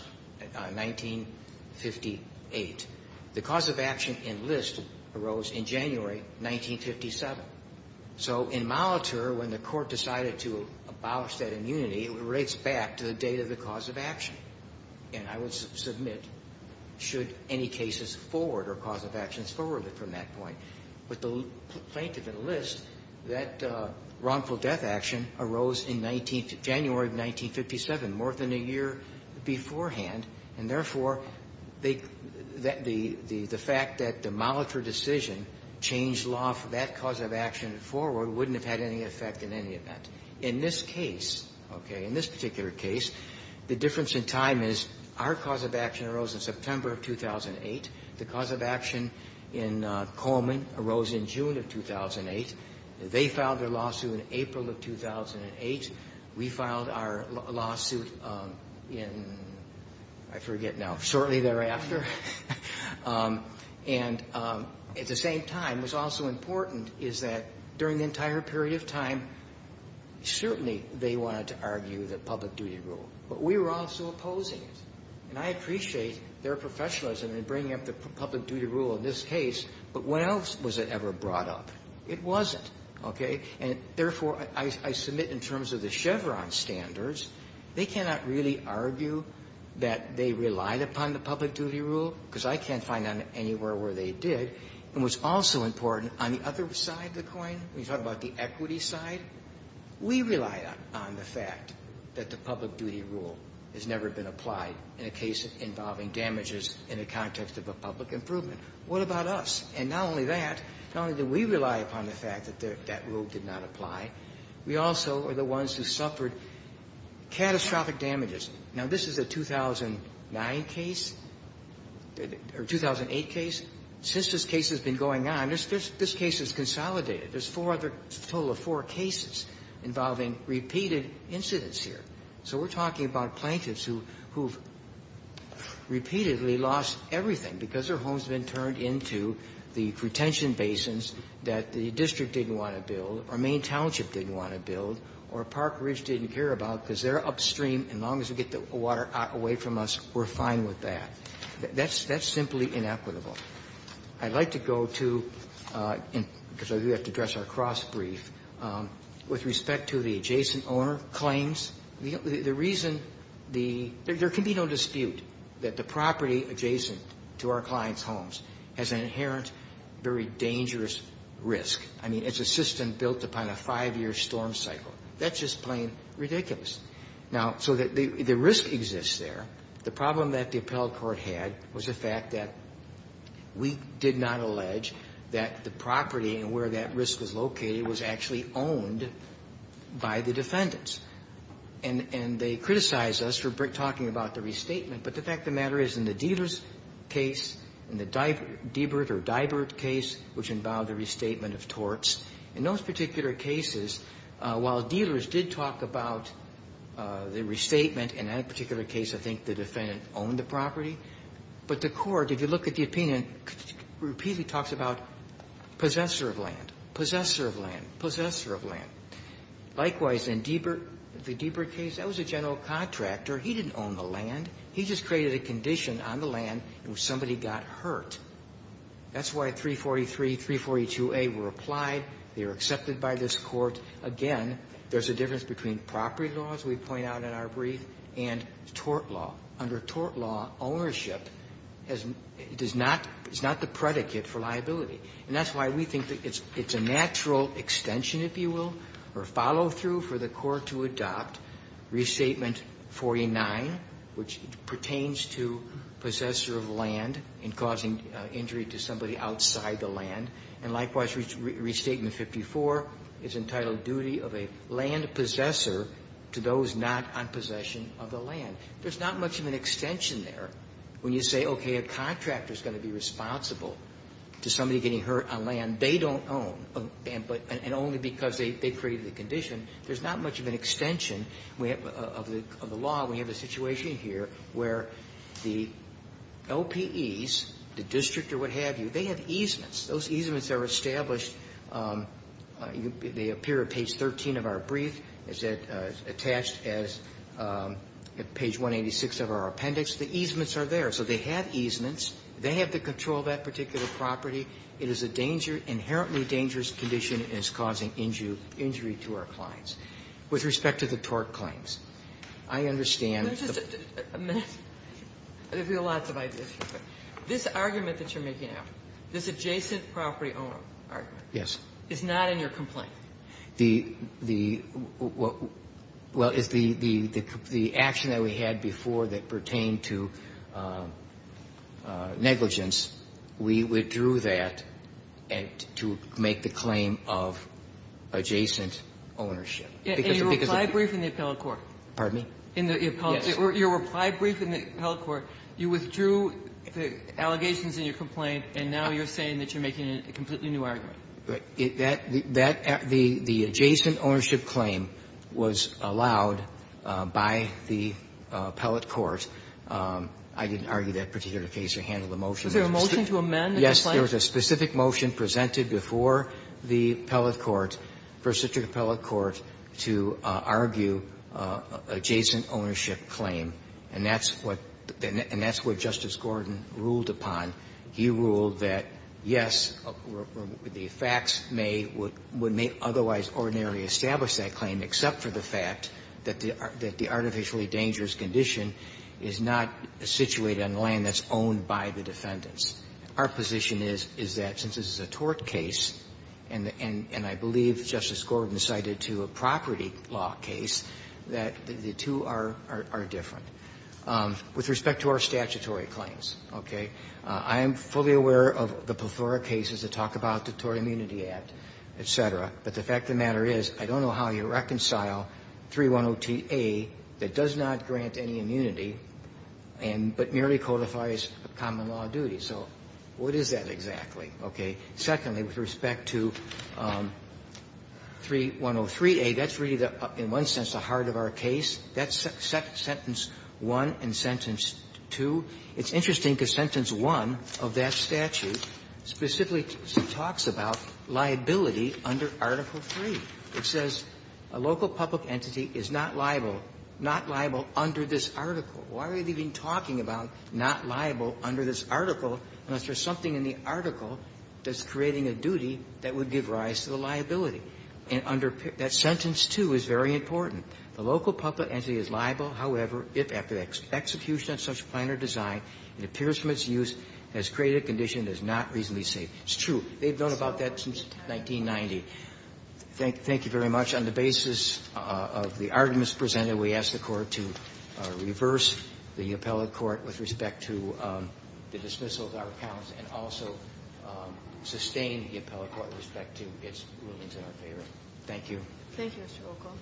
1958. The cause of action in List arose in January 1957. So in Molitor, when the court decided to abolish that immunity, it relates back to the date of the cause of action. And I would submit, should any cases forward or cause of actions forwarded from that point, with the plaintiff in List, that wrongful death action arose in January of 1957, more than a year beforehand. And therefore, the fact that the Molitor decision changed law for that cause of action forward wouldn't have had any effect in any event. In this case, okay, in this particular case, the difference in time is, our cause of action arose in September of 2008. The cause of action in Coleman arose in June of 2008. They filed their lawsuit in April of 2008. We filed our lawsuit in, I forget now, shortly thereafter. And at the same time, what's also important is that during the entire period of time, certainly they wanted to argue the public duty rule, but we were also opposing it. And I appreciate their professionalism in bringing up the public duty rule in this case, but when else was it ever brought up? It wasn't. Okay? And therefore, I submit in terms of the Chevron standards, they cannot really argue that they relied upon the public duty rule, because I can't find anywhere where they did. And what's also important, on the other side of the coin, when you talk about the equity side, we relied on the fact that the public duty rule has never been applied in a case involving damages in the context of a public improvement. What about us? And not only that, not only did we rely upon the fact that that rule did not apply, we also are the ones who suffered catastrophic damages. Now, this is a 2009 case, or 2008 case. Since this case has been going on, this case has consolidated. There's four other, a total of four cases involving repeated incidents here. So we're talking about plaintiffs who have repeatedly lost everything because their home has been turned into the retention basins that the district didn't want to build, or Main Township didn't want to build, or Park Ridge didn't care about because they're upstream, and as long as we get the water away from us, we're fine with that. That's simply inequitable. I'd like to go to, because I do have to address our cross-brief, with respect to the adjacent owner claims. The reason the – there can be no dispute that the property adjacent to our client's homes has an inherent, very dangerous risk. I mean, it's a system built upon a five-year storm cycle. That's just plain ridiculous. Now, so the risk exists there. The problem that the appellate court had was the fact that we did not allege that the property and where that risk was located was actually owned by the defendants. And they criticized us for talking about the restatement, but the fact of the matter is, in the Deavers case, in the Debert or Dibert case, which involved a restatement of torts, in those particular cases, while dealers did talk about the restatement, in that particular case, I think the defendant owned the property, but the court, if you look at the opinion, repeatedly talks about possessor of land, possessor of land, possessor of land. Likewise, in the Dibert case, that was a general contractor. He didn't own the land. He just created a condition on the land, and somebody got hurt. That's why 343, 342A were applied. They were accepted by this court. Again, there's a difference between property law, as we point out in our brief, and tort law. Under tort law, ownership is not the predicate for liability, and that's why we think that it's a natural extension, if you will, or follow-through for the court to adopt Restatement 49, which pertains to possessor of land in causing injury to somebody outside the land, and likewise, Restatement 54 is entitled duty of a land possessor to those not on possession of the land. There's not much of an extension there when you say, okay, a contractor is going to be responsible to somebody getting hurt on land they don't own, and only because they created the condition, there's not much of an extension of the law. We have a situation here where the LPEs, the district or what have you, they have easements. Those easements are established. They appear at page 13 of our brief. It's attached as page 186 of our appendix. The easements are there. So they have easements. They have the control of that particular property. It is a danger, inherently dangerous condition, and it's causing injury to our clients. With respect to the TORC claims, I understand the point. Kagan. There are lots of ideas here, but this argument that you're making now, this adjacent property owner argument. Yes. It's not in your complaint. The action that we had before that pertained to negligence, we withdrew that, and to make the claim of adjacent ownership. Because the biggest of the two things you're saying that you're making is a completely new argument. The adjacent ownership claim was allowed by the appellate court. I didn't argue that particular case or handle the motion. Was there a motion to amend the complaint? Yes. There was a specific motion presented before the appellate court, first district appellate court, to argue adjacent ownership claim, and that's what Justice Gordon ruled upon. He ruled that, yes, the facts may otherwise ordinarily establish that claim, except for the fact that the artificially dangerous condition is not situated on land that's owned by the defendants. Our position is, is that since this is a tort case, and I believe Justice Gordon cited to a property law case, that the two are different. With respect to our statutory claims, okay, I am fully aware of the plethora of cases that talk about the Tort Immunity Act, et cetera, but the fact of the matter is, I don't know how you reconcile 310TA that does not grant any immunity, but merely codifies common law duty. So what is that exactly? Okay. Secondly, with respect to 3103A, that's really, in one sense, the heart of our case. That's sentence one and sentence two. It's interesting because sentence one of that statute specifically talks about liability under Article III. It says a local public entity is not liable, not liable under this article. Why are they even talking about not liable under this article unless there's something in the article that's creating a duty that would give rise to the liability? And under that sentence, too, is very important. The local public entity is liable, however, if, after the execution of such a plan or design, it appears from its use has created a condition that is not reasonably safe. It's true. They've known about that since 1990. Thank you very much. On the basis of the arguments presented, we ask the Court to reverse the appellate court with respect to the dismissal of our accounts and also sustain the appellate court with respect to its rulings in our favor. Thank you. Thank you, Mr. O'Connell.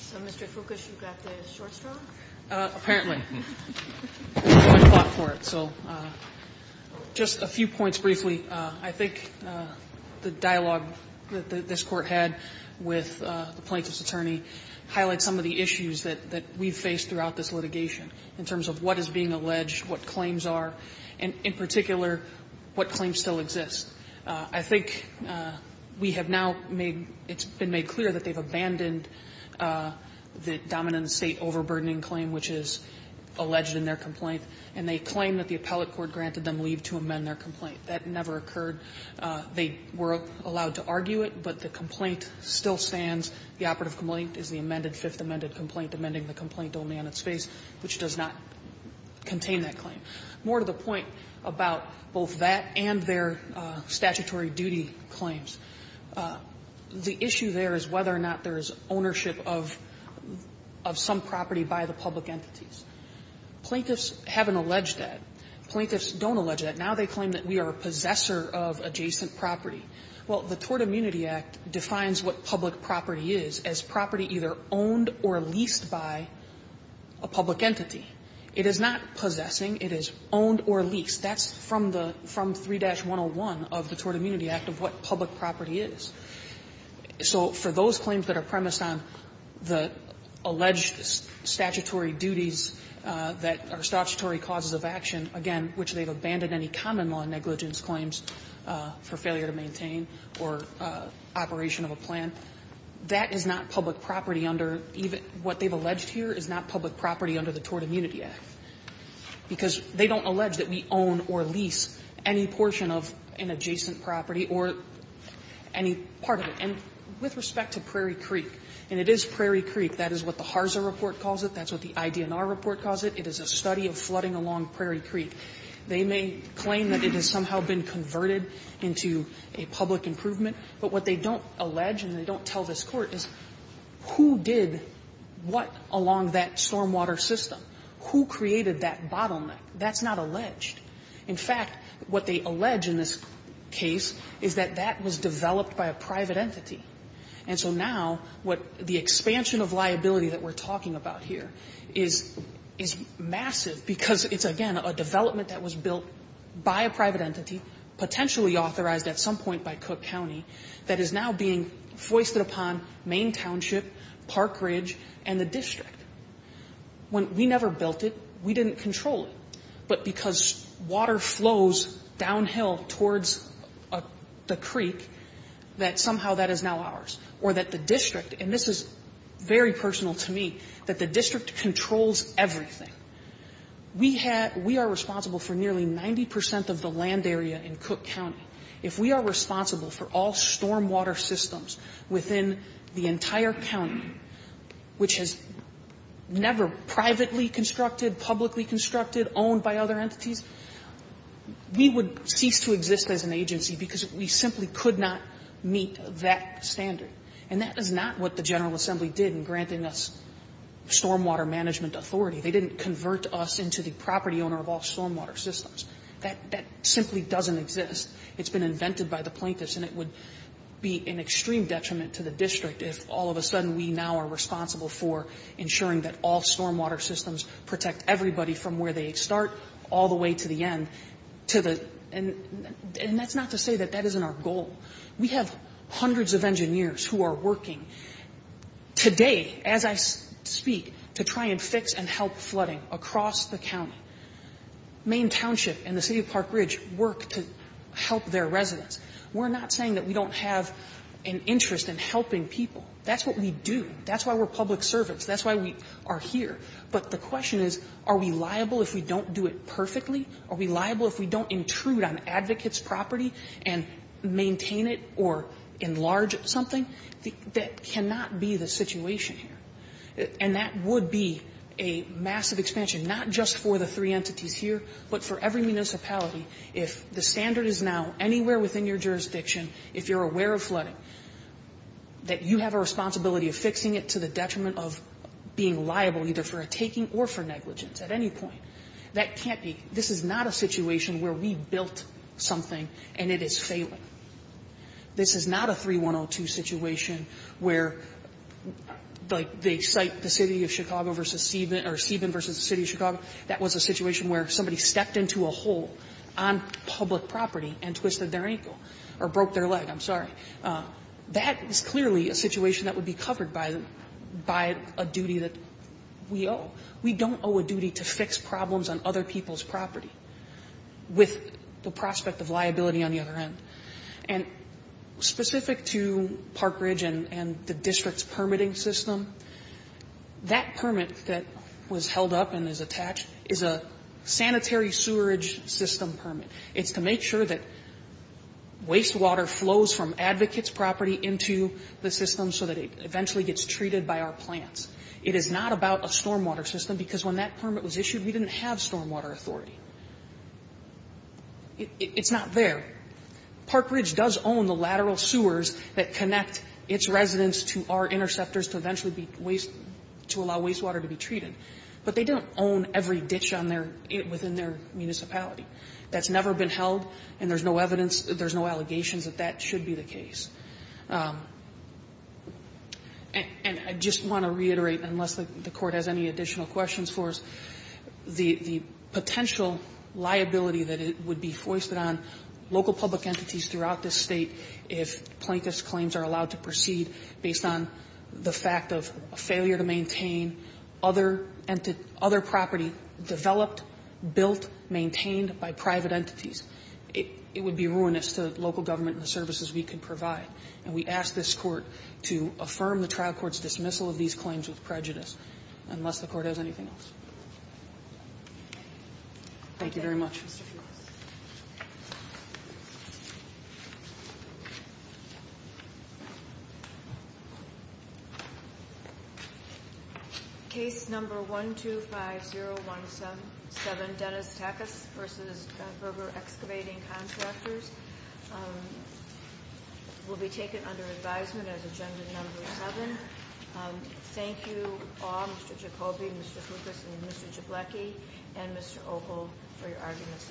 So, Mr. Foucault, you've got the short straw? Apparently. I fought for it. So just a few points briefly. I think the dialogue that this Court had with the plaintiff's attorney highlights some of the issues that we've faced throughout this litigation in terms of what is being alleged, what claims are, and, in particular, what claims still exist. I think we have now made – it's been made clear that they've abandoned the dominant state overburdening claim, which is alleged in their complaint, and they claim that the appellate court granted them leave to amend their complaint. That never occurred. They were allowed to argue it, but the complaint still stands. The operative complaint is the amended, fifth amended complaint, amending the complaint only on its face, which does not contain that claim. More to the point about both that and their statutory duty claims, the issue there is whether or not there is ownership of some property by the public entities. Plaintiffs haven't alleged that. Plaintiffs don't allege that. Now they claim that we are a possessor of adjacent property. Well, the Tort Immunity Act defines what public property is as property either owned or leased by a public entity. It is not possessing. It is owned or leased. That's from the – from 3-101 of the Tort Immunity Act of what public property is. So for those claims that are premised on the alleged statutory duties that are statutory causes of action, again, which they've abandoned any common law negligence claims for failure to maintain or operation of a plan, that is not public property under even – what they've alleged here is not public property under the Tort Immunity Act, because they don't allege that we own or lease any portion of an adjacent property or any part of it. And with respect to Prairie Creek, and it is Prairie Creek. That is what the HARSA report calls it. That's what the IDNR report calls it. It is a study of flooding along Prairie Creek. They may claim that it has somehow been converted into a public improvement. But what they don't allege and they don't tell this Court is who did what along that stormwater system? Who created that bottleneck? That's not alleged. In fact, what they allege in this case is that that was developed by a private entity. And so now what the expansion of liability that we're talking about here is massive because it's, again, a development that was built by a private entity, potentially authorized at some point by Cook County, that is now being foisted upon Maine Township, Park Ridge, and the district. When we never built it, we didn't control it. But because water flows downhill towards the creek, that somehow that is now ours. Or that the district, and this is very personal to me, that the district controls everything. We are responsible for nearly 90% of the land area in Cook County. If we are responsible for all stormwater systems within the entire county, which is never privately constructed, publicly constructed, owned by other entities, we would cease to exist as an agency because we simply could not meet that standard. And that is not what the General Assembly did in granting us stormwater management authority. They didn't convert us into the property owner of all stormwater systems. That simply doesn't exist. It's been invented by the plaintiffs. And it would be an extreme detriment to the district if all of a sudden we now are responsible for ensuring that all stormwater systems protect everybody from where they start all the way to the end. And that's not to say that that isn't our goal. We have hundreds of engineers who are working today, as I speak, to try and fix and help flooding across the county. Maine Township and the City of Park Ridge work to help their residents. We're not saying that we don't have an interest in helping people. That's what we do. That's why we're public servants. That's why we are here. But the question is, are we liable if we don't do it perfectly? Are we liable if we don't intrude on advocates' property and maintain it or enlarge something? That cannot be the situation here. And that would be a massive expansion, not just for the three entities here, but for every municipality. If the standard is now anywhere within your jurisdiction, if you're aware of flooding, that you have a responsibility of fixing it to the detriment of being liable either for a taking or for negligence at any point, that can't be. This is not a situation where we built something and it is failing. This is not a 3-1-0-2 situation where, like, they cite the City of Chicago versus Seidman or Seidman versus the City of Chicago. That was a situation where somebody stepped into a hole on public property and twisted their ankle or broke their leg. I'm sorry. That is clearly a situation that would be covered by a duty that we owe. We don't owe a duty to fix problems on other people's property with the prospect of liability on the other end. And specific to Park Ridge and the district's permitting system, that permit that was held up and is attached is a sanitary sewerage system permit. It's to make sure that wastewater flows from advocates' property into the system so that it eventually gets treated by our plants. It is not about a stormwater system, because when that permit was issued, we didn't have stormwater authority. It's not there. Park Ridge does own the lateral sewers that connect its residents to our interceptors to eventually be waste to allow wastewater to be treated. But they don't own every ditch on their, within their municipality. That's never been held, and there's no evidence, there's no allegations that that should be the case. And I just want to reiterate, unless the Court has any additional questions for us, the potential liability that would be foisted on local public entities throughout this State if plaintiff's claims are allowed to proceed based on the fact of a failure to maintain other property developed, built, maintained by private entities, it would be ruinous to local government and the services we could provide. And we ask this Court to affirm the trial court's dismissal of these claims with prejudice, unless the Court has anything else. Thank you very much. Thank you, Mr. Fuchs. Case number 125017, Dennis Takas v. Berger Excavating Contractors, will be taken under advisement as agenda number seven. Thank you all, Mr. Jacoby, Mr. Fuchs, and Mr. Jablacki, and Mr. Opal for your arguments.